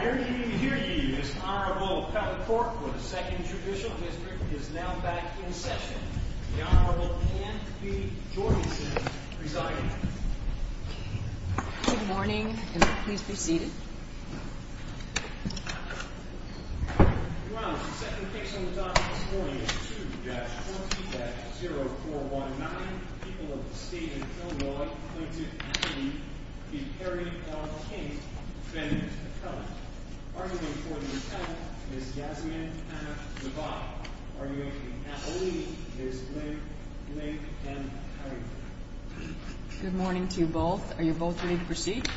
Here ye, here ye, Ms. Honorable Peppercorn for the 2nd Judicial District is now back in session. The Honorable Anne B. Jordanson presiding. Good morning, and please be seated. Your Honor, the second case on the docket this morning is 2-14-0419, where nine people of the state of Illinois claim to actually be Perry v. King's defendants of felony. Arguing for the attempt is Yasmin M. Zuboff. Arguing for the allegation is Blake M. Cunningham. Good morning to you both. Are you both ready to proceed?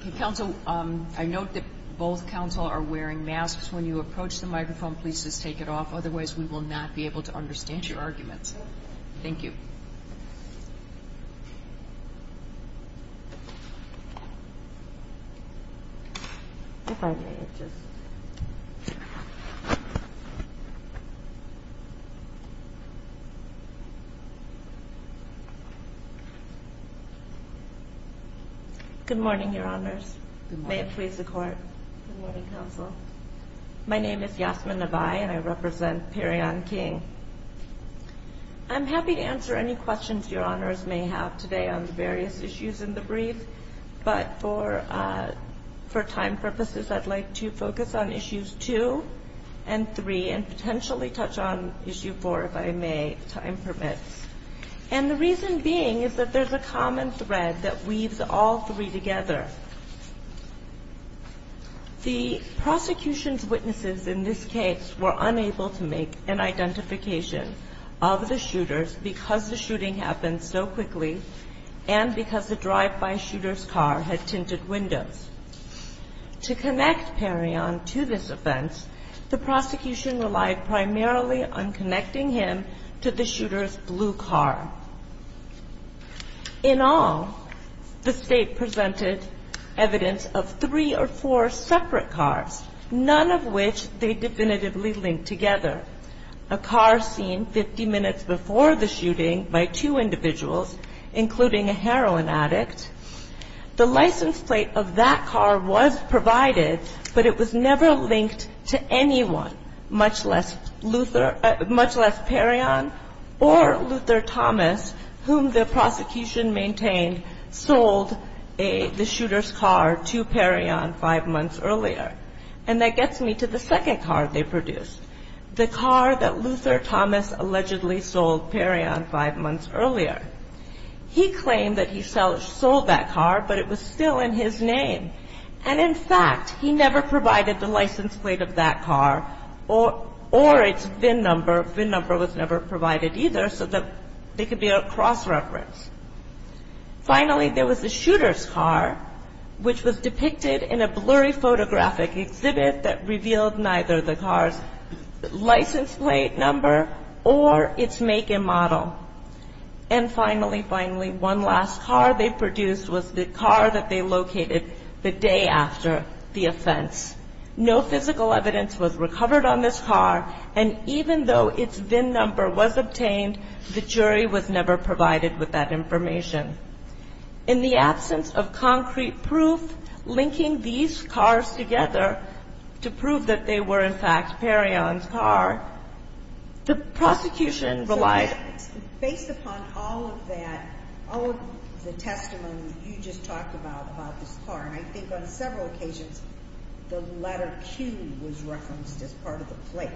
Okay, counsel, I note that both counsel are wearing masks. When you approach the microphone, please just take it off. Otherwise, we will not be able to understand your arguments. Thank you. Good morning, Your Honors. May it please the Court. Good morning, counsel. My name is Yasmin Nebai, and I represent Perry v. King. I'm happy to answer any questions Your Honors may have today on the various issues in the brief. But for time purposes, I'd like to focus on issues 2 and 3 and potentially touch on issue 4, if I may, if time permits. And the reason being is that there's a common thread that weaves all three together. The prosecution's witnesses in this case were unable to make an identification of the shooters because the shooting happened so quickly and because the drive-by shooter's car had tinted windows. To connect Perry on to this offense, the prosecution relied primarily on connecting him to the shooter's blue car. In all, the State presented evidence of three or four separate cars, none of which they definitively linked together. A car seen 50 minutes before the shooting by two individuals, including a heroin addict, the license plate of that car was provided, but it was never linked to anyone, much less Perry on or Luther Thomas, whom the prosecution maintained sold the shooter's car to Perry on five months earlier. And that gets me to the second car they produced, the car that Luther Thomas allegedly sold Perry on five months earlier. He claimed that he sold that car, but it was still in his name. And in fact, he never provided the license plate of that car or its VIN number. VIN number was never provided either, so that they could be a cross-reference. Finally, there was the shooter's car, which was depicted in a blurry photographic exhibit that revealed neither the car's license plate number or its make and model. And finally, finally, one last car they produced was the car that they located the day after the offense. No physical evidence was recovered on this car, and even though its VIN number was obtained, the jury was never provided with that information. In the absence of concrete proof linking these cars together to prove that they were, in fact, Perry on's car, the prosecution relied... Based upon all of that, all of the testimony you just talked about about this car, and I think on several occasions the letter Q was referenced as part of the plate.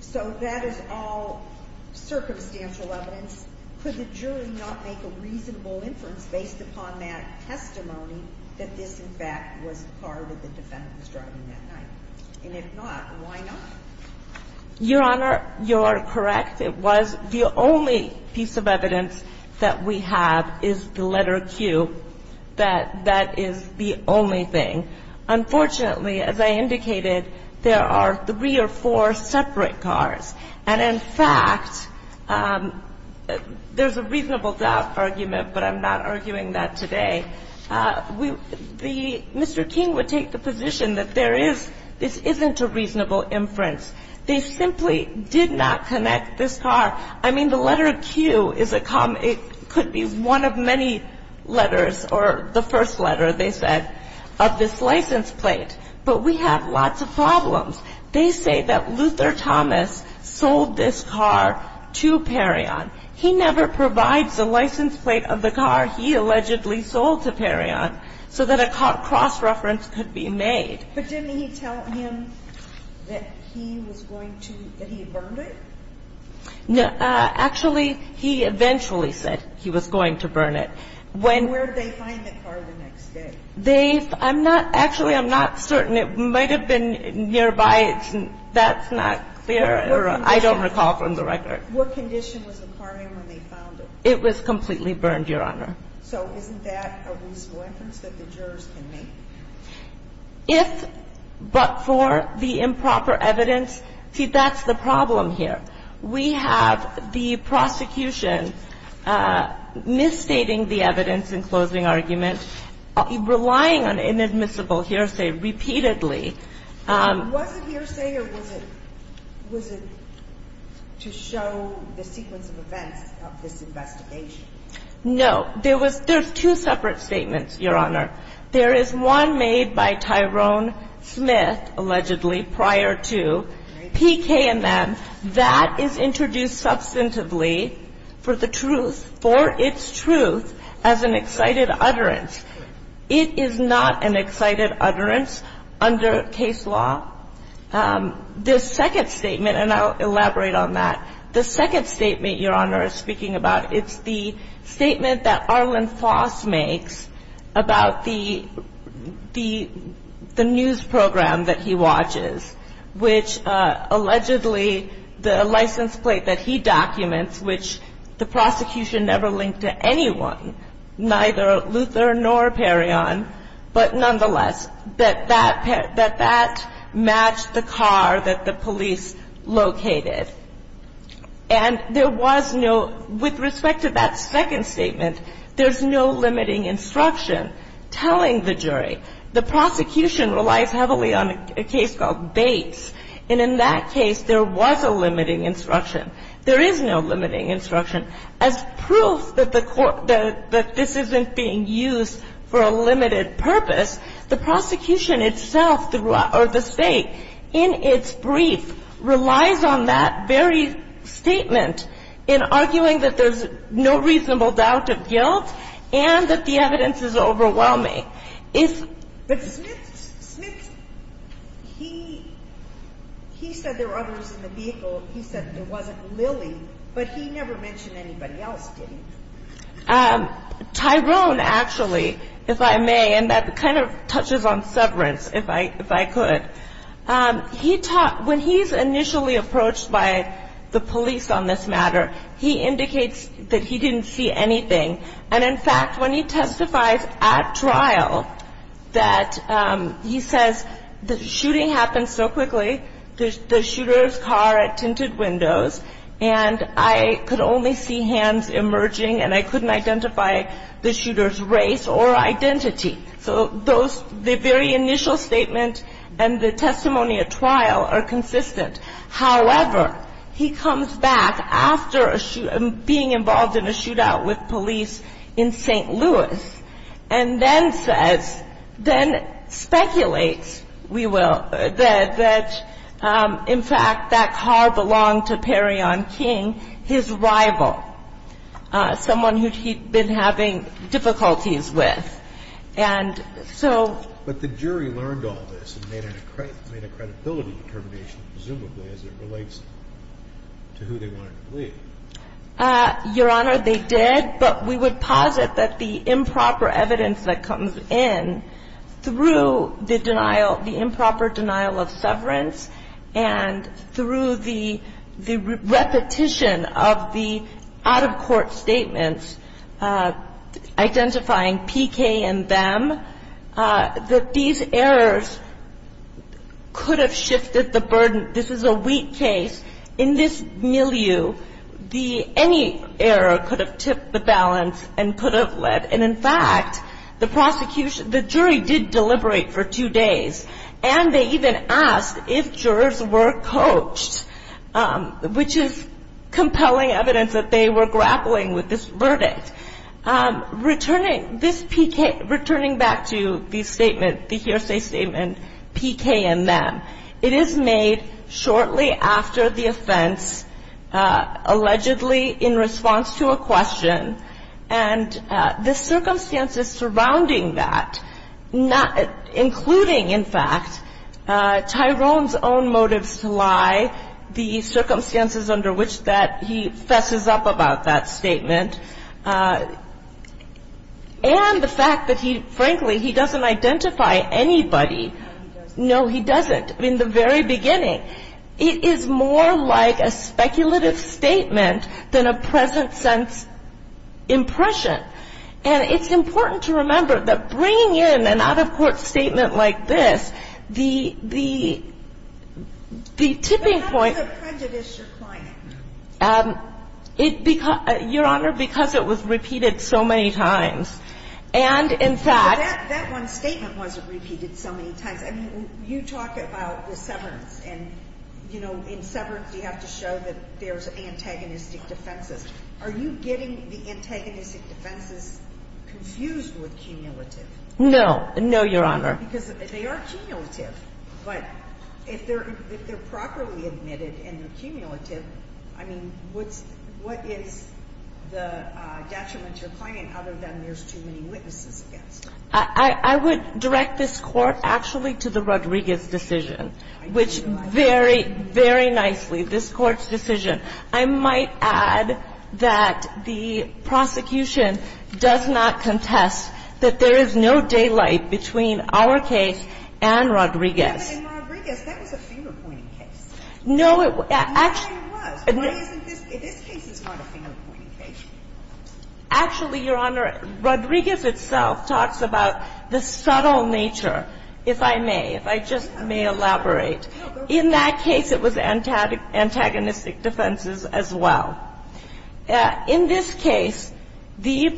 So that is all circumstantial evidence. Could the jury not make a reasonable inference based upon that testimony that this, in fact, was the car that the defendant was driving that night? And if not, why not? Your Honor, you are correct. It was the only piece of evidence that we have is the letter Q. That is the only thing. Unfortunately, as I indicated, there are three or four separate cars. And, in fact, there's a reasonable doubt argument, but I'm not arguing that today. Mr. King would take the position that there is, this isn't a reasonable inference. They simply did not connect this car. I mean, the letter Q is a common, it could be one of many letters or the first letter, they said, of this license plate. But we have lots of problems. They say that Luther Thomas sold this car to Perry on. He never provides the license plate of the car he allegedly sold to Perry on so that a cross-reference could be made. But didn't he tell him that he was going to, that he had burned it? No. Actually, he eventually said he was going to burn it. Where did they find the car the next day? They, I'm not, actually, I'm not certain. It might have been nearby. That's not clear. I don't recall from the record. What condition was the car in when they found it? It was completely burned, Your Honor. So isn't that a reasonable inference that the jurors can make? If, but for the improper evidence, see, that's the problem here. We have the prosecution misstating the evidence in closing argument, relying on inadmissible hearsay repeatedly. Was it hearsay or was it to show the sequence of events of this investigation? No. There was, there's two separate statements, Your Honor. There is one made by Tyrone Smith, allegedly, prior to PKMM. That is introduced substantively for the truth, for its truth, as an excited utterance. It is not an excited utterance under case law. The second statement, and I'll elaborate on that. The second statement, Your Honor, is speaking about, it's the statement that Arlen Foss makes about the, the, the news program that he watches, which, allegedly, the license plate that he documents, which the prosecution never linked to anyone, neither Luther nor Perrion, but nonetheless, that that, that that matched the car that the police located. And there was no, with respect to that second statement, there's no limiting instruction telling the jury. The prosecution relies heavily on a case called Bates. And in that case, there was a limiting instruction. There is no limiting instruction. As proof that the court, that this isn't being used for a limited purpose, the prosecution itself throughout, or the State, in its brief, relies on that very statement in arguing that there's no reasonable doubt of guilt and that the evidence is overwhelming. But Smith, he, he said there were others in the vehicle. He said there wasn't Lily, but he never mentioned anybody else, did he? Tyrone, actually, if I may, and that kind of touches on severance, if I, if I could. He taught, when he's initially approached by the police on this matter, he indicates that he didn't see anything. And in fact, when he testifies at trial, that he says the shooting happened so quickly, the shooter's car had tinted windows, and I could only see hands emerging, and I couldn't identify the shooter's race or identity. So those, the very initial statement and the testimony at trial are consistent. However, he comes back after a shoot, being involved in a shootout with police in St. Louis, and then says, then speculates, we will, that, in fact, that car belonged to Perrion King, his rival, someone who he'd been having difficulties with. And so. And so, you know, the jury, you know, the jury isn't the only one that's involved, but the jury learned all this and made a credibility determination, presumably, as it relates to who they wanted to believe. Your Honor, they did. But we would posit that the improper evidence that comes in through the denial, the improper denial of severance, and through the repetition of the out-of-court statements identifying P.K. and them, that these errors could have shifted the burden. This is a weak case. In this milieu, any error could have tipped the balance and could have led. And, in fact, the jury did deliberate for two days. And they even asked if jurors were coached, which is compelling evidence that they were grappling with this verdict. Returning back to the statement, the hearsay statement, P.K. and them, it is made shortly after the offense, allegedly in response to a question. And the circumstances surrounding that, including, in fact, Tyrone's own motives to lie, the circumstances under which that he fesses up about that statement, and the fact that he, frankly, he doesn't identify anybody. No, he doesn't. In the very beginning. It is more like a speculative statement than a present-sense impression. And it's important to remember that bringing in an out-of-court statement like this, the tipping point. But how does it prejudice your client? Your Honor, because it was repeated so many times. And, in fact. That one statement wasn't repeated so many times. I mean, you talk about the severance. And, you know, in severance you have to show that there's antagonistic defenses. Are you getting the antagonistic defenses confused with cumulative? No. No, Your Honor. Because they are cumulative. But if they're properly admitted and they're cumulative, I mean, what is the detriment to your client other than there's too many witnesses against it? I would direct this Court, actually, to the Rodriguez decision, which very, very nicely, this Court's decision. I might add that the prosecution does not contest that there is no daylight between our case and Rodriguez. But in Rodriguez, that was a finger-pointing case. No, it was. Rodriguez, in this case, is not a finger-pointing case. Actually, Your Honor, Rodriguez itself talks about the subtle nature, if I may, if I just may elaborate. In that case, it was antagonistic defenses as well. In this case, the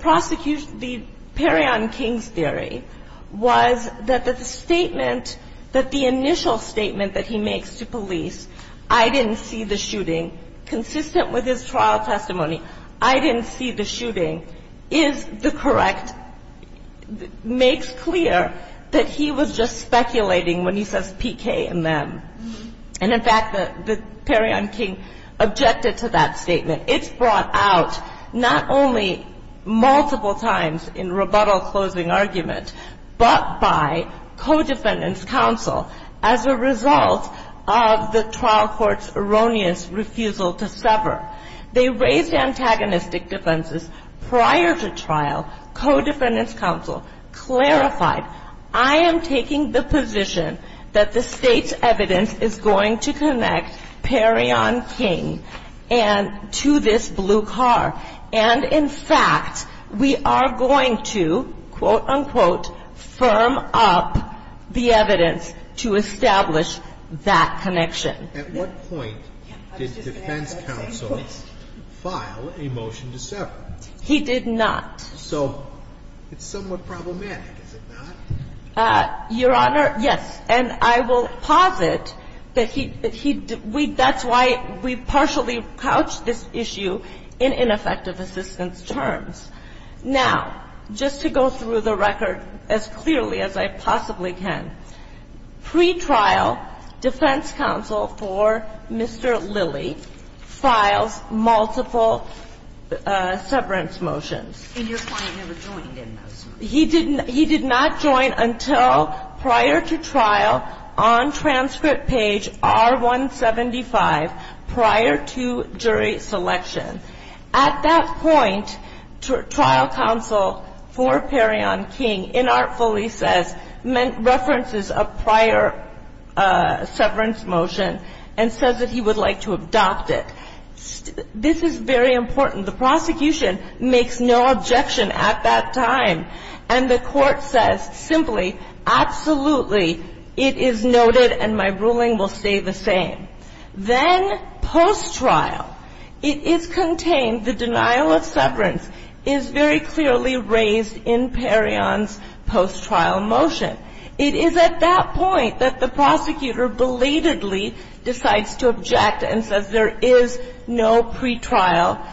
prosecution, the Perry on Kings theory was that the statement that the initial statement that he makes to police, I didn't see the shooting, consistent with his trial testimony, I didn't see the shooting, is the correct, makes clear that he was just speculating when he says PK and them. And, in fact, the Perry on King objected to that statement. It's brought out, not only multiple times in rebuttal closing argument, but by co-defendant's counsel as a result of the trial court's erroneous refusal to sever. They raised antagonistic defenses prior to trial. Co-defendant's counsel clarified, I am taking the position that the State's evidence is going to connect Perry on King and to this blue car. And, in fact, we are going to, quote, unquote, firm up the evidence to establish that connection. At what point did defense counsel file a motion to sever? He did not. So it's somewhat problematic, is it not? Your Honor, yes. And I will posit that he didn't. That's why we partially couched this issue in ineffective assistance terms. Now, just to go through the record as clearly as I possibly can, pretrial defense counsel for Mr. Lilly files multiple severance motions. And your client never joined in those motions? He did not join until prior to trial on transcript page R-175 prior to jury selection. At that point, trial counsel for Perry on King inartfully says, references a prior severance motion and says that he would like to adopt it. This is very important. The prosecution makes no objection at that time. And the Court says simply, absolutely, it is noted and my ruling will stay the same. Then post-trial, it is contained, the denial of severance is very clearly raised in Perry on's post-trial motion. It is at that point that the prosecutor belatedly decides to object and says there is no pretrial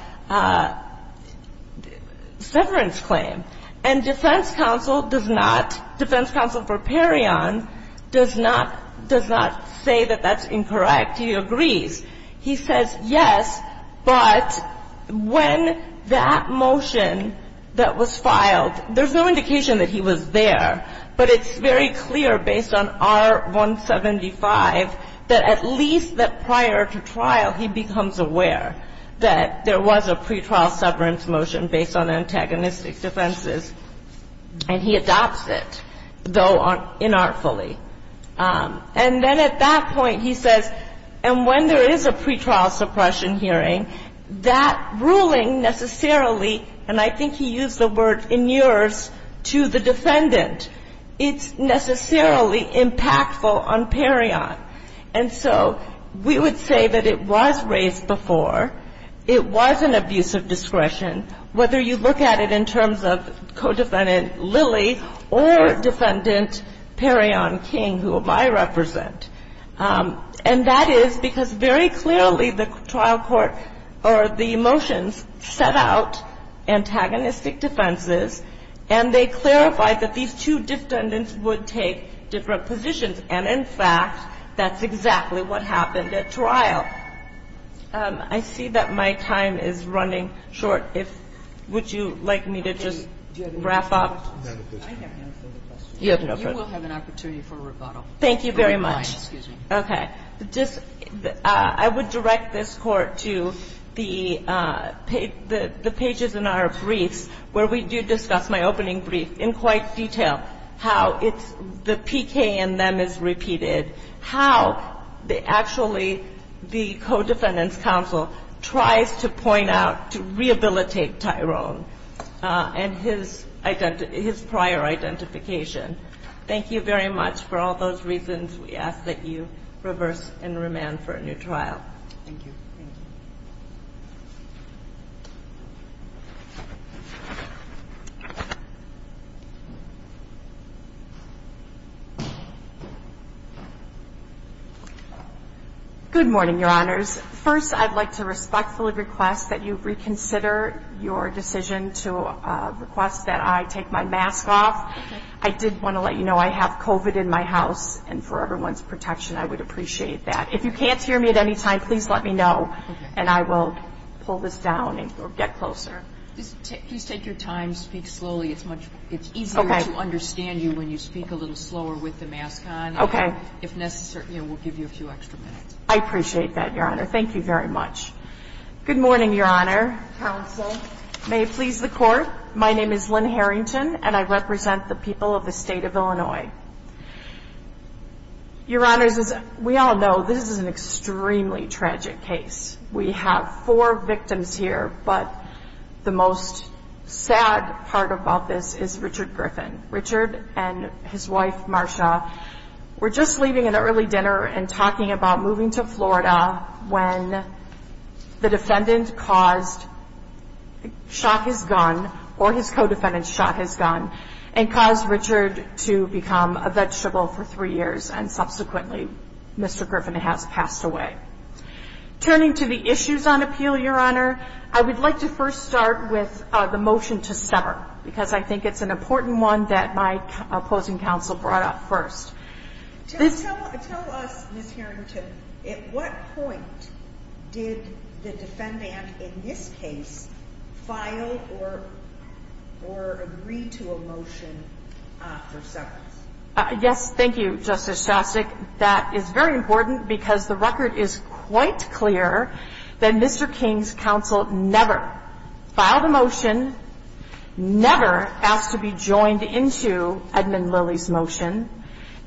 severance claim. And defense counsel does not, defense counsel for Perry on does not say that that's incorrect. He agrees. He says, yes, but when that motion that was filed, there's no indication that he was there. But it's very clear based on R-175 that at least that prior to trial he becomes aware that there was a pretrial severance motion based on antagonistic defenses. And he adopts it, though inartfully. And then at that point he says, and when there is a pretrial suppression hearing, that ruling necessarily, and I think he used the word inures to the defendant, it's necessarily impactful on Perry on. And so we would say that it was raised before, it was an abuse of discretion, whether you look at it in terms of co-defendant Lilly or defendant Perry on King, who I represent. And that is because very clearly the trial court or the motions set out antagonistic defenses and they clarified that these two defendants would take different positions. And, in fact, that's exactly what happened at trial. I see that my time is running short. Would you like me to just wrap up? You have no further questions. You will have an opportunity for rebuttal. Thank you very much. Excuse me. Okay. I would direct this Court to the pages in our briefs where we do discuss my opening brief in quite detail, how it's the PK in them is repeated, how actually the co-defendant's counsel tries to point out to rehabilitate Tyrone and his prior identification. Thank you very much for all those reasons we ask that you reverse and remand for a new trial. Thank you. Thank you. Good morning, Your Honors. First, I'd like to respectfully request that you reconsider your decision to request that I take my mask off. I did want to let you know I have COVID in my house, and for everyone's protection, I would appreciate that. If you can't hear me at any time, please let me know and I will pull this down or get closer. Please take your time. Speak slowly. It's easier to understand you when you speak a little slower with the mask on. Okay. If necessary, we'll give you a few extra minutes. I appreciate that, Your Honor. Thank you very much. Good morning, Your Honor. Counsel. May it please the Court. My name is Lynn Harrington, and I represent the people of the State of Illinois. Your Honors, as we all know, this is an extremely tragic case. We have four victims here, but the most sad part about this is Richard Griffin. Richard and his wife, Marsha, were just leaving an early dinner and talking about moving to Florida when the defendant shot his gun, or his co-defendant shot his gun, and caused Richard to become a vegetable for three years, and subsequently Mr. Griffin has passed away. Turning to the issues on appeal, Your Honor, I would like to first start with the motion to sever because I think it's an important one that my opposing counsel brought up first. Tell us, Ms. Harrington, at what point did the defendant, in this case, file or agree to a motion for severance? Yes. Thank you, Justice Shostak. That is very important because the record is quite clear that Mr. King's counsel never filed a motion, never asked to be joined into Edmund Lilly's motion,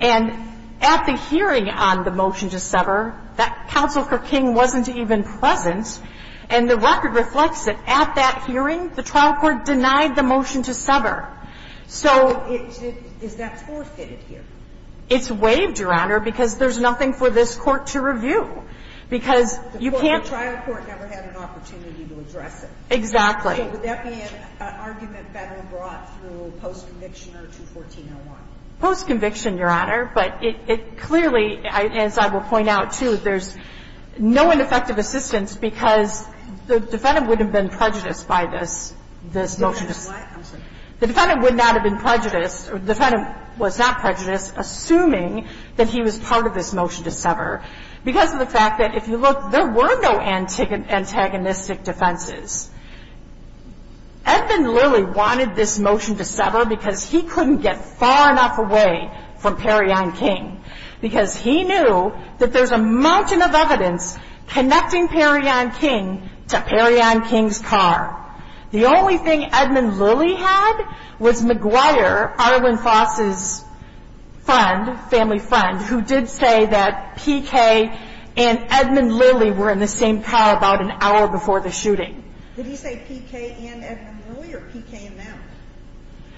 and at the hearing on the motion to sever, that counsel for King wasn't even present, and the record reflects it. At that hearing, the trial court denied the motion to sever. So is that forfeited here? It's waived, Your Honor, because there's nothing for this court to review because you can't The trial court never had an opportunity to address it. Exactly. So would that be an argument better brought through post-conviction or 214-01? Post-conviction, Your Honor, but it clearly, as I will point out, too, there's no ineffective assistance because the defendant would have been prejudiced by this, this motion to sever. I'm sorry. The defendant would not have been prejudiced or the defendant was not prejudiced assuming that he was part of this motion to sever because of the fact that if you look, there were no antagonistic defenses. Edmund Lilly wanted this motion to sever because he couldn't get far enough away from Perrion King because he knew that there's a mountain of evidence connecting Perrion King to Perrion King's car. The only thing Edmund Lilly had was McGuire, Arlen Foss's friend, family friend, who did say that P.K. and Edmund Lilly were in the same car about an hour before the shooting. Did he say P.K. and Edmund Lilly or P.K. and now?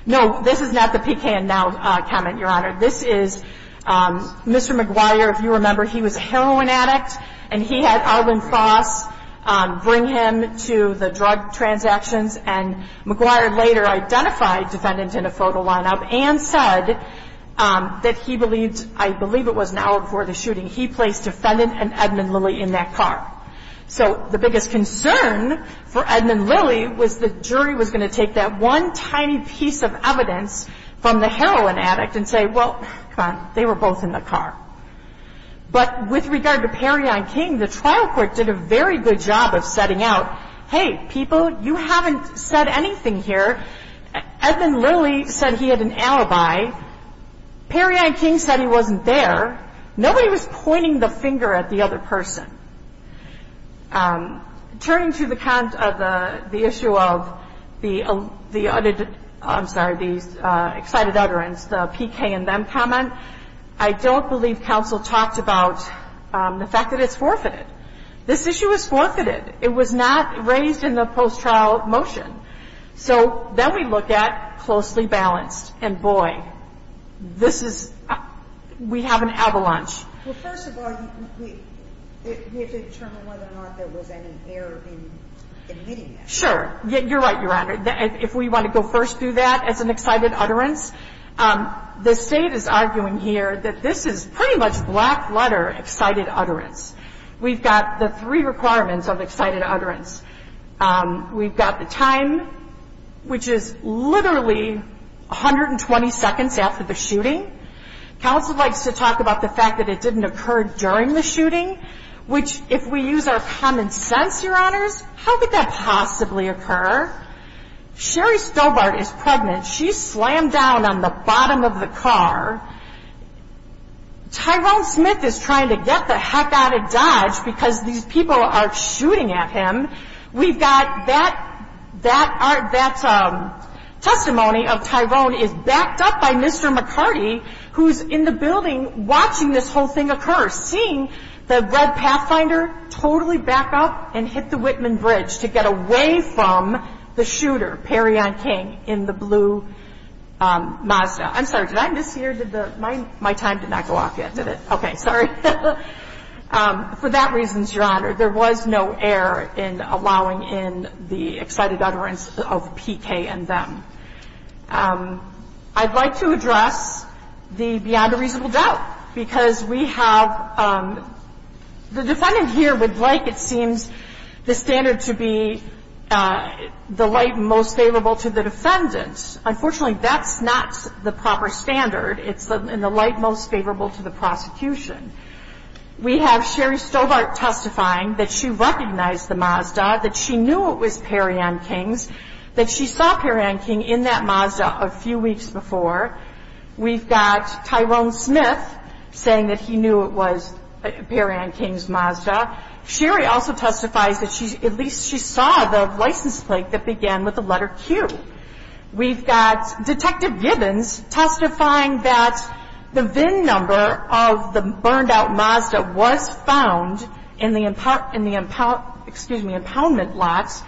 No, this is not the P.K. and now comment, Your Honor. This is Mr. McGuire. If you remember, he was a heroin addict and he had Arlen Foss bring him to the drug transactions and McGuire later identified defendant in a photo lineup and said that he believed, I believe it was an hour before the shooting, he placed defendant and Edmund Lilly in that car. So the biggest concern for Edmund Lilly was the jury was going to take that one tiny piece of evidence from the heroin addict and say, well, come on, they were both in the car. But with regard to Perrion King, the trial court did a very good job of setting out, hey, people, you haven't said anything here. Edmund Lilly said he had an alibi. Perrion King said he wasn't there. Nobody was pointing the finger at the other person. Turning to the issue of the excited utterance, the P.K. and them comment, I don't believe counsel talked about the fact that it's forfeited. This issue is forfeited. It was not raised in the post-trial motion. So then we look at closely balanced, and boy, this is, we have an avalanche. Well, first of all, we have to determine whether or not there was any error in admitting that. Sure. You're right, Your Honor. If we want to go first through that as an excited utterance, the State is arguing here that this is pretty much black letter excited utterance. We've got the three requirements of excited utterance. We've got the time, which is literally 120 seconds after the shooting. Counsel likes to talk about the fact that it didn't occur during the shooting, which if we use our common sense, Your Honors, how could that possibly occur? Sherry Stobart is pregnant. She slammed down on the bottom of the car. Tyrone Smith is trying to get the heck out of Dodge because these people are shooting at him. We've got that testimony of Tyrone is backed up by Mr. McCarty, who's in the building watching this whole thing occur, seeing the Red Pathfinder totally back up and hit the Whitman Bridge to get away from the shooter, Perrion King, in the blue Mazda. I'm sorry. Did I mishear? My time did not go off yet, did it? Okay. Sorry. For that reason, Your Honor, there was no error in allowing in the excited utterance of PK and them. I'd like to address the beyond a reasonable doubt, because we have the defendant here would like, it seems, the standard to be the light most favorable to the defendant. Unfortunately, that's not the proper standard. It's in the light most favorable to the prosecution. We have Sherry Stobart testifying that she recognized the Mazda, that she knew it was Perrion King's, that she saw Perrion King in that Mazda a few weeks before. We've got Tyrone Smith saying that he knew it was Perrion King's Mazda. Sherry also testifies that at least she saw the license plate that began with the letter Q. We've got Detective Gibbons testifying that the VIN number of the burned-out Mazda was found in the impoundment lots.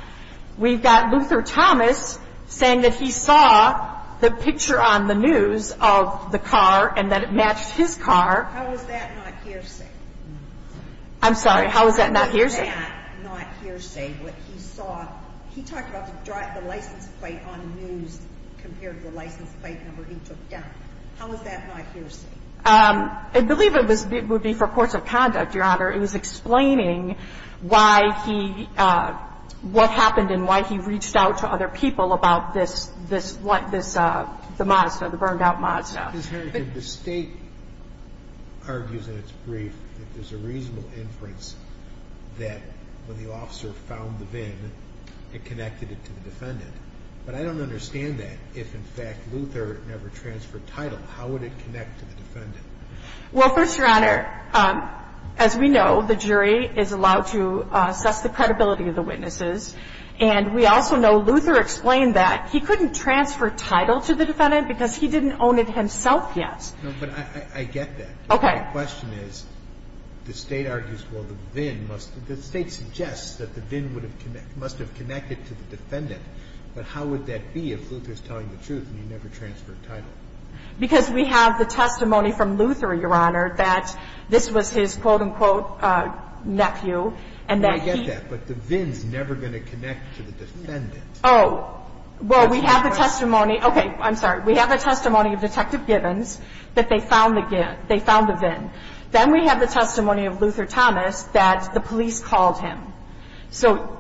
We've got Luther Thomas saying that he saw the picture on the news of the car and that it matched his car. How is that not hearsay? I'm sorry. How is that not hearsay? What he saw, he talked about the license plate on the news compared to the license plate number he took down. How is that not hearsay? I believe it would be for courts of conduct, Your Honor. It was explaining why he, what happened and why he reached out to other people about this, the Mazda, the burned-out Mazda. The state argues in its brief that there's a reasonable inference that when the officer found the VIN, it connected it to the defendant. But I don't understand that. If, in fact, Luther never transferred title, how would it connect to the defendant? Well, first, Your Honor, as we know, the jury is allowed to assess the credibility of the witnesses. And we also know Luther explained that he couldn't transfer title to the defendant because he didn't own it himself yet. No, but I get that. Okay. The question is, the state argues, well, the VIN must, the state suggests that the VIN would have, must have connected to the defendant. But how would that be if Luther's telling the truth and he never transferred title? Because we have the testimony from Luther, Your Honor, that this was his, quote, unquote, nephew, and that he And the state argues that the VIN would have never connected to the defendant. I get that. But the VIN's never going to connect to the defendant. Oh. Well, we have the testimony. Okay. I'm sorry. We have the testimony of Detective Gibbons that they found the VIN. Then we have the testimony of Luther Thomas that the police called him. So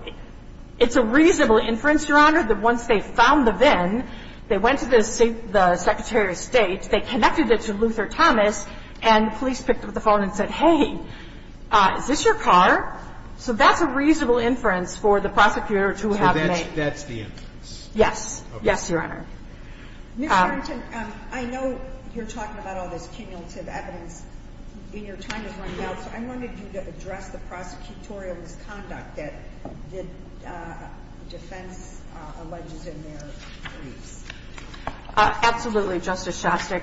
it's a reasonable inference, Your Honor, that once they found the VIN, they went to the Secretary of State, they connected it to Luther Thomas, and the police picked up the phone and said, hey, is this your car? So that's a reasonable inference for the prosecutor to have made. So that's the inference? Yes. Okay. Yes, Your Honor. Ms. Barrington, I know you're talking about all this cumulative evidence and your time is running out, so I wanted you to address the prosecutorial misconduct that the defense alleges in their briefs. Absolutely, Justice Shostak.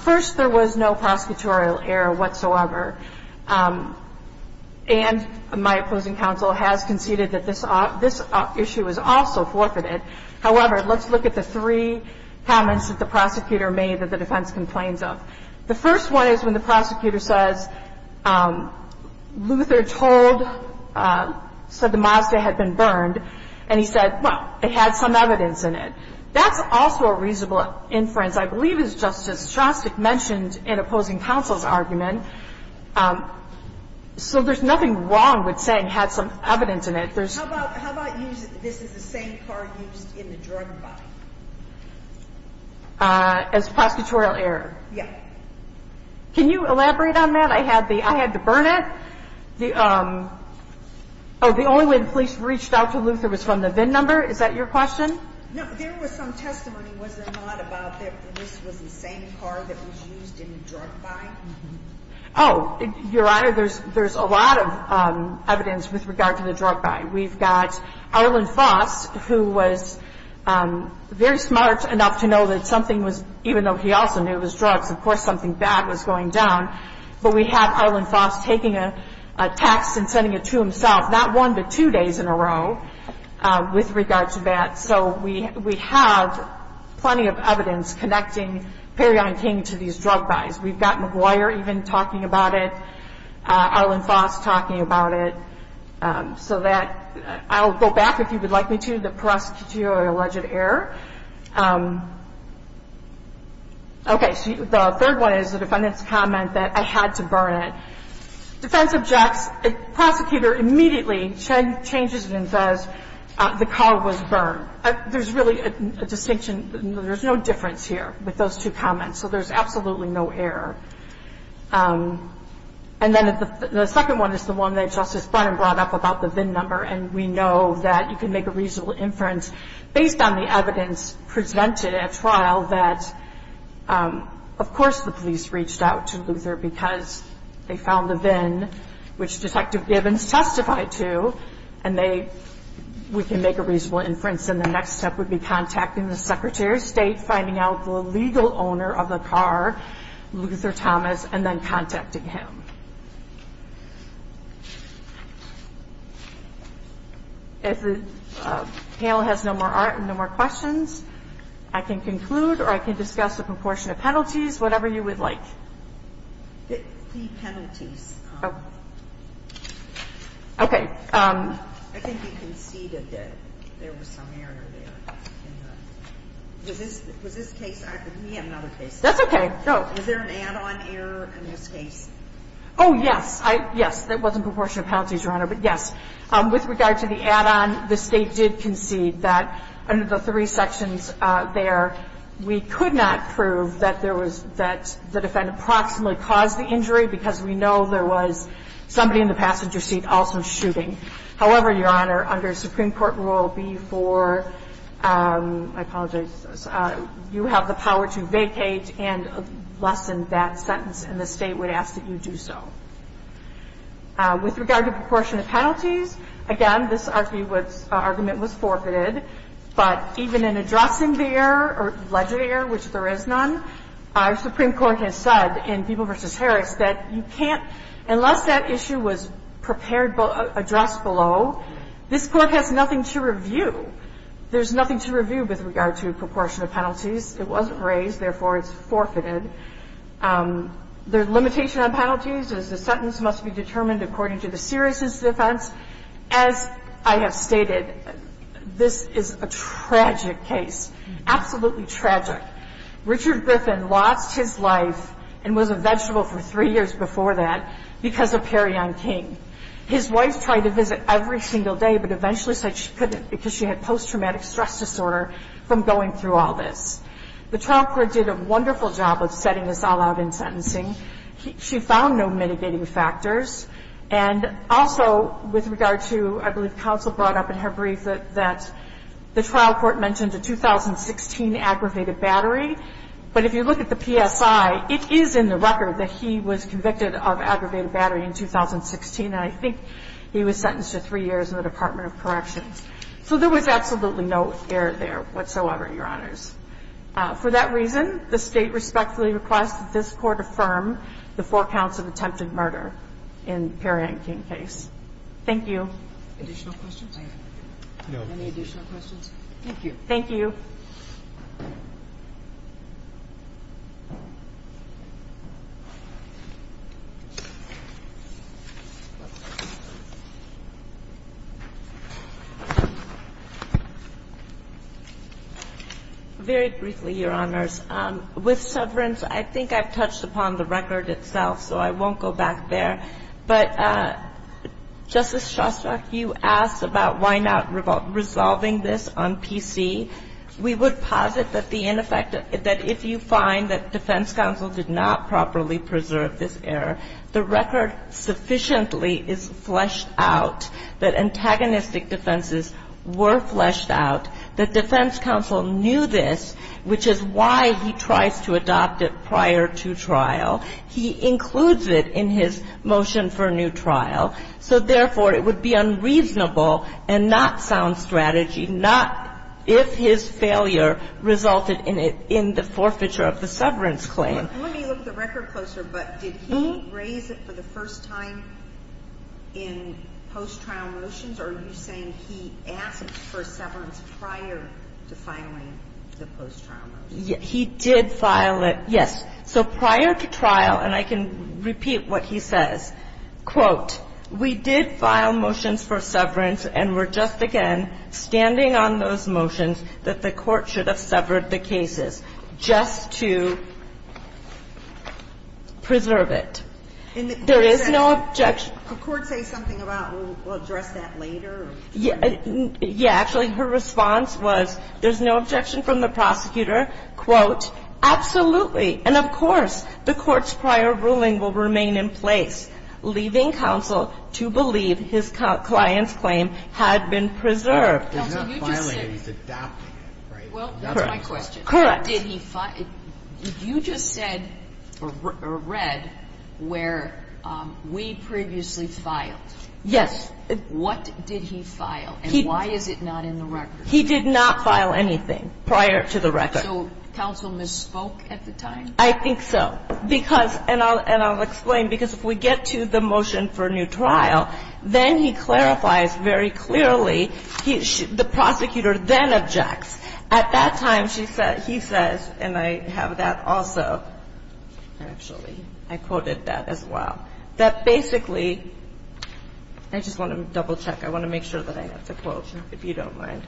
First, there was no prosecutorial error whatsoever, and my opposing counsel has conceded that this issue was also forfeited. However, let's look at the three comments that the prosecutor made that the defense complains of. The first one is when the prosecutor says Luther told, said the Mazda had been burned, and he said, well, it had some evidence in it. That's also a reasonable inference, I believe, as Justice Shostak mentioned in opposing counsel's argument. So there's nothing wrong with saying it had some evidence in it. How about using this is the same car used in the drug body? As prosecutorial error? Yeah. Can you elaborate on that? I had to burn it? Oh, the only way the police reached out to Luther was from the VIN number? Is that your question? No, there was some testimony, was there not, about that this was the same car that was used in the drug body? Oh, Your Honor, there's a lot of evidence with regard to the drug body. We've got Arlen Foss, who was very smart enough to know that something was, even though he also knew it was drugs, of course something bad was going down. But we have Arlen Foss taking a text and sending it to himself, not one but two days in a row, with regard to that. So we have plenty of evidence connecting Perryon King to these drug buys. We've got McGuire even talking about it, Arlen Foss talking about it. So that, I'll go back if you would like me to, the prosecutorial alleged error. Okay, the third one is the defendant's comment that I had to burn it. Defense objects, prosecutor immediately changes it and says the car was burned. There's really a distinction, there's no difference here with those two comments. So there's absolutely no error. And then the second one is the one that Justice Brennan brought up about the VIN number, and we know that you can make a reasonable inference based on the evidence presented at trial that, of course the police reached out to Luther because they found the VIN, which Detective Gibbons testified to, and we can make a reasonable inference. And the next step would be contacting the Secretary of State, finding out the legal owner of the car, Luther Thomas, and then contacting him. If the panel has no more questions, I can conclude or I can discuss a proportion of penalties, whatever you would like. The penalties. Okay. I think you conceded that there was some error there. Was this case, we have another case. That's okay. Was there an add-on error in this case? Oh, yes. Yes, there was a proportion of penalties, Your Honor, but yes. With regard to the add-on, the State did concede that under the three sections there, we could not prove that there was that the defendant proximately caused the injury because we know there was somebody in the passenger seat also shooting. However, Your Honor, under Supreme Court rule B-4, I apologize, you have the power to vacate and lessen that sentence, and the State would ask that you do so. With regard to proportion of penalties, again, this argument was forfeited, but even in addressing the error or alleged error, which there is none, our Supreme Court has said in Peeble v. Harris that you can't, unless that issue was prepared, addressed below, this Court has nothing to review. There's nothing to review with regard to proportion of penalties. It wasn't raised. Therefore, it's forfeited. The limitation on penalties is the sentence must be determined according to the seriousness of offense. As I have stated, this is a tragic case, absolutely tragic. Richard Griffin lost his life and was a vegetable for three years before that because of Perrion King. His wife tried to visit every single day, but eventually said she couldn't because she had post-traumatic stress disorder from going through all this. The trial court did a wonderful job of setting this all out in sentencing. She found no mitigating factors. And also with regard to, I believe counsel brought up in her brief that the trial court mentioned a 2016 aggravated battery. But if you look at the PSI, it is in the record that he was convicted of aggravated battery in 2016, and I think he was sentenced to three years in the Department of Corrections. So there was absolutely no error there whatsoever, Your Honors. For that reason, the state respectfully requests that this court affirm the four counts of attempted murder in Perrion King's case. Thank you. Additional questions? No. Any additional questions? Thank you. Thank you. Very briefly, Your Honors. With severance, I think I've touched upon the record itself, so I won't go back there. But Justice Shostak, you asked about why not resolving this on PC. We would posit that the ineffective – that if you find that defense counsel did not properly preserve this error, the record sufficiently is fleshed out, that antagonistic defenses were fleshed out. That defense counsel knew this, which is why he tries to adopt it prior to trial. He includes it in his motion for new trial. So, therefore, it would be unreasonable and not sound strategy, not if his failure resulted in the forfeiture of the severance claim. Let me look at the record closer. But did he raise it for the first time in post-trial motions, or are you saying he asked for severance prior to filing the post-trial motion? He did file it, yes. So prior to trial, and I can repeat what he says, quote, we did file motions for severance and were just, again, standing on those motions that the Court should have severed the cases just to preserve it. There is no objection. The Court says something about we'll address that later? Yeah. Actually, her response was there's no objection from the prosecutor. Quote, absolutely. And, of course, the Court's prior ruling will remain in place, leaving counsel to believe his client's claim had been preserved. Counsel, you just said. He's not filing it. He's adopting it, right? Well, that's my question. Correct. Did he file it? You just said or read where we previously filed. Yes. What did he file, and why is it not in the record? He did not file anything prior to the record. So counsel misspoke at the time? I think so. Because, and I'll explain, because if we get to the motion for new trial, then he clarifies very clearly. The prosecutor then objects. At that time, he says, and I have that also, actually. I quoted that as well. That basically, I just want to double check. I want to make sure that I have the quote, if you don't mind.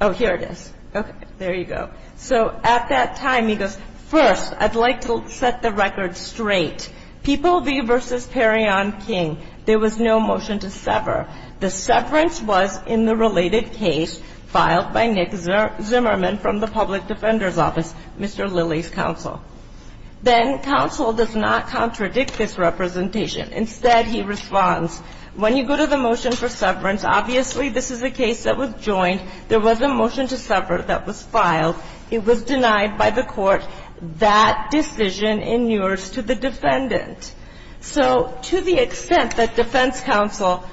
Oh, here it is. Okay. There you go. So at that time, he goes, first, I'd like to set the record straight. People v. Perrion King, there was no motion to sever. The severance was in the related case filed by Nick Zimmerman from the public defender's office, Mr. Lilly's counsel. Then counsel does not contradict this representation. Instead, he responds, when you go to the motion for severance, obviously, this is a case that was joined. There was a motion to sever that was filed. It was denied by the Court. That decision inures to the defendant. So to the extent that defense counsel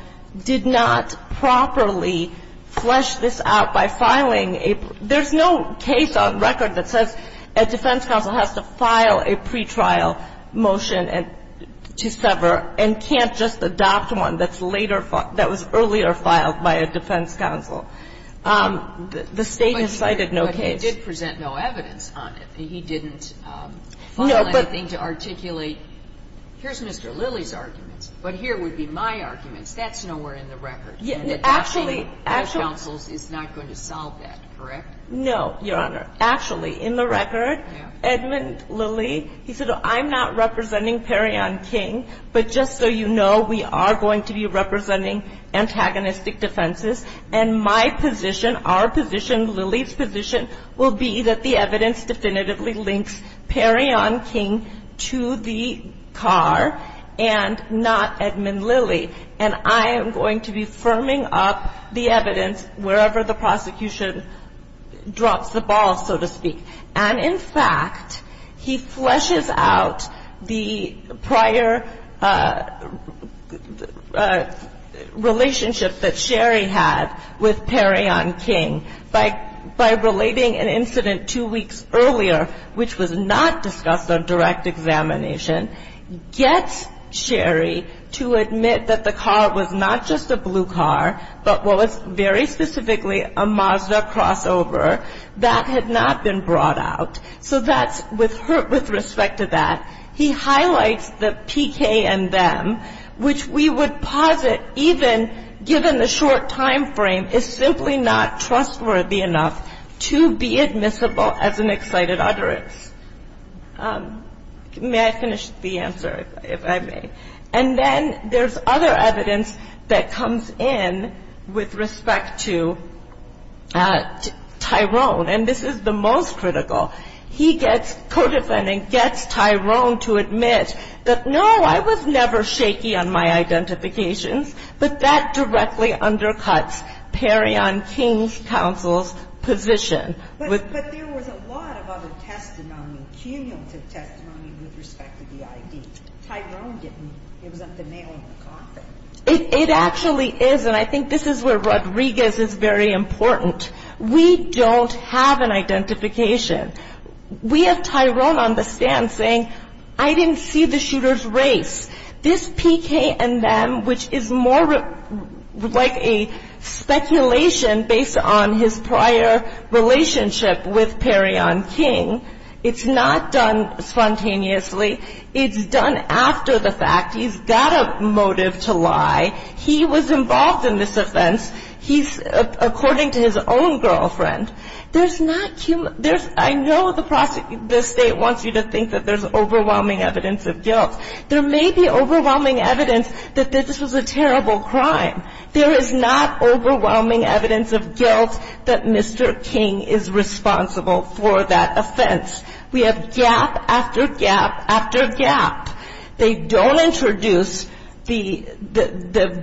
did not properly flesh this out by filing a ---- there's no case on record that says a defense counsel has to file a pretrial motion to sever and can't just adopt one that's later filed, that was earlier filed by a defense counsel. The State has cited no case. But he did present no evidence on it. He didn't file anything to articulate, here's Mr. Lilly's arguments, but here would be my arguments. That's nowhere in the record. Actually, actually. The defense counsel is not going to solve that, correct? No, Your Honor. Actually, in the record, Edmund Lilly, he said, I'm not representing Perrion King, but just so you know, we are going to be representing antagonistic defenses. And my position, our position, Lilly's position, will be that the evidence definitively links Perrion King to the car and not Edmund Lilly. And I am going to be firming up the evidence wherever the prosecution drops the ball, so to speak. And in fact, he fleshes out the prior relationship that Sherry had with Perrion King by relating an incident two weeks earlier, which was not discussed on direct examination, gets Sherry to admit that the car was not just a blue car, but was very specifically a Mazda crossover. That had not been brought out. So that's with respect to that. He highlights the PK and them, which we would posit even given the short time frame is simply not trustworthy enough to be admissible as an excited utterance. May I finish the answer, if I may? And then there's other evidence that comes in with respect to Tyrone. And this is the most critical. He gets, codefendant gets Tyrone to admit that, no, I was never shaky on my identifications, but that directly undercuts Perrion King's counsel's position. But there was a lot of other testimony, cumulative testimony with respect to the ID. Tyrone didn't. It was at the nail in the coffin. It actually is. And I think this is where Rodriguez is very important. We don't have an identification. We have Tyrone on the stand saying, I didn't see the shooter's race. This PK and them, which is more like a speculation based on his prior relationship with Perrion King, it's not done spontaneously. It's done after the fact. He's got a motive to lie. He was involved in this offense. He's, according to his own girlfriend, there's not cumulative. I know the state wants you to think that there's overwhelming evidence of guilt. There may be overwhelming evidence that this was a terrible crime. There is not overwhelming evidence of guilt that Mr. King is responsible for that offense. We have gap after gap after gap. They don't introduce the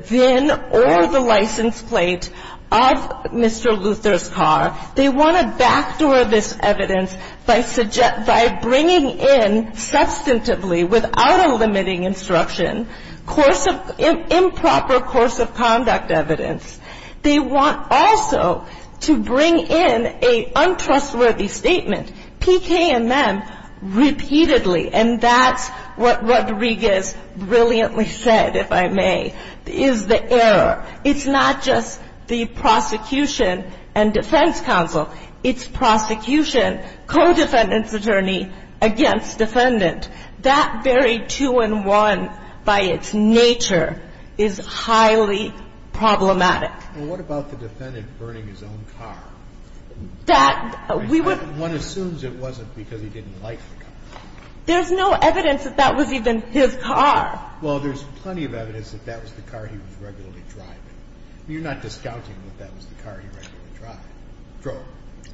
VIN or the license plate of Mr. Luther's car. They want to backdoor this evidence by bringing in substantively, without a limiting instruction, improper course of conduct evidence. They want also to bring in an untrustworthy statement, PK and them, repeatedly. And that's what Rodriguez brilliantly said, if I may, is the error. It's not just the prosecution and defense counsel. It's prosecution, co-defendant's attorney against defendant. That very two-in-one, by its nature, is highly problematic. Well, what about the defendant burning his own car? That we would. One assumes it wasn't because he didn't like the car. There's no evidence that that was even his car. Well, there's plenty of evidence that that was the car he was regularly driving. You're not discounting that that was the car he regularly drove.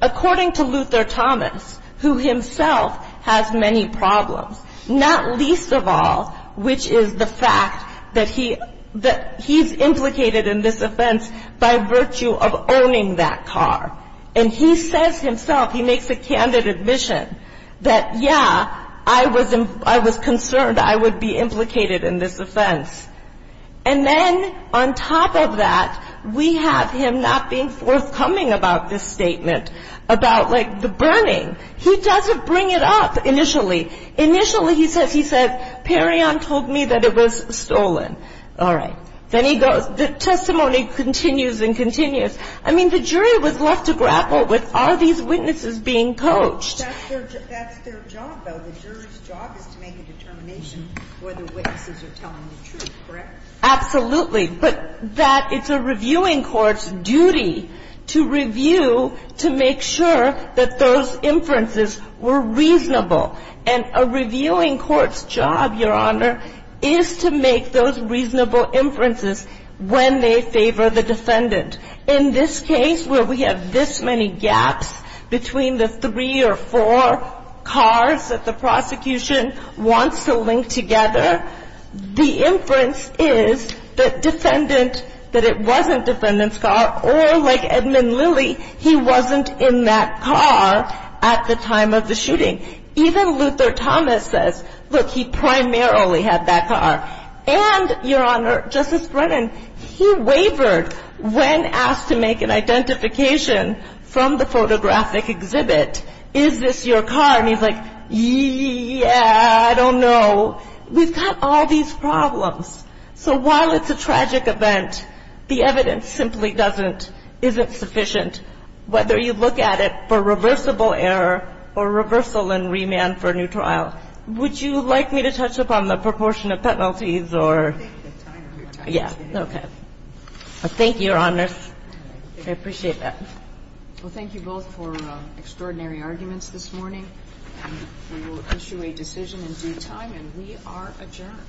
According to Luther Thomas, who himself has many problems, not least of all, which is the fact that he's implicated in this offense by virtue of owning that car. And he says himself, he makes a candid admission that, yeah, I was concerned I would be implicated in this offense. And then on top of that, we have him not being forthcoming about this statement about, like, the burning. He doesn't bring it up initially. Initially, he says, he said, Perrion told me that it was stolen. All right. Then he goes. The testimony continues and continues. I mean, the jury was left to grapple with, are these witnesses being coached? That's their job, though. The jury's job is to make a determination whether witnesses are telling the truth, correct? Absolutely. But that it's a reviewing court's duty to review to make sure that those inferences were reasonable. And a reviewing court's job, Your Honor, is to make those reasonable inferences when they favor the defendant. In this case, where we have this many gaps between the three or four cars that the prosecution wants to link together, the inference is that defendant, that it wasn't defendant's car, or like Edmund Lilly, he wasn't in that car at the time of the shooting. Even Luther Thomas says, look, he primarily had that car. And, Your Honor, Justice Brennan, he wavered when asked to make an identification from the photographic exhibit. Is this your car? And he's like, yeah, I don't know. We've got all these problems. So while it's a tragic event, the evidence simply doesn't, isn't sufficient, whether you look at it for reversible error or reversal and remand for new trial. Would you like me to touch upon the proportion of penalties or? Yeah. Okay. Thank you, Your Honors. I appreciate that. Well, thank you both for extraordinary arguments this morning. We will issue a decision in due time, and we are adjourned.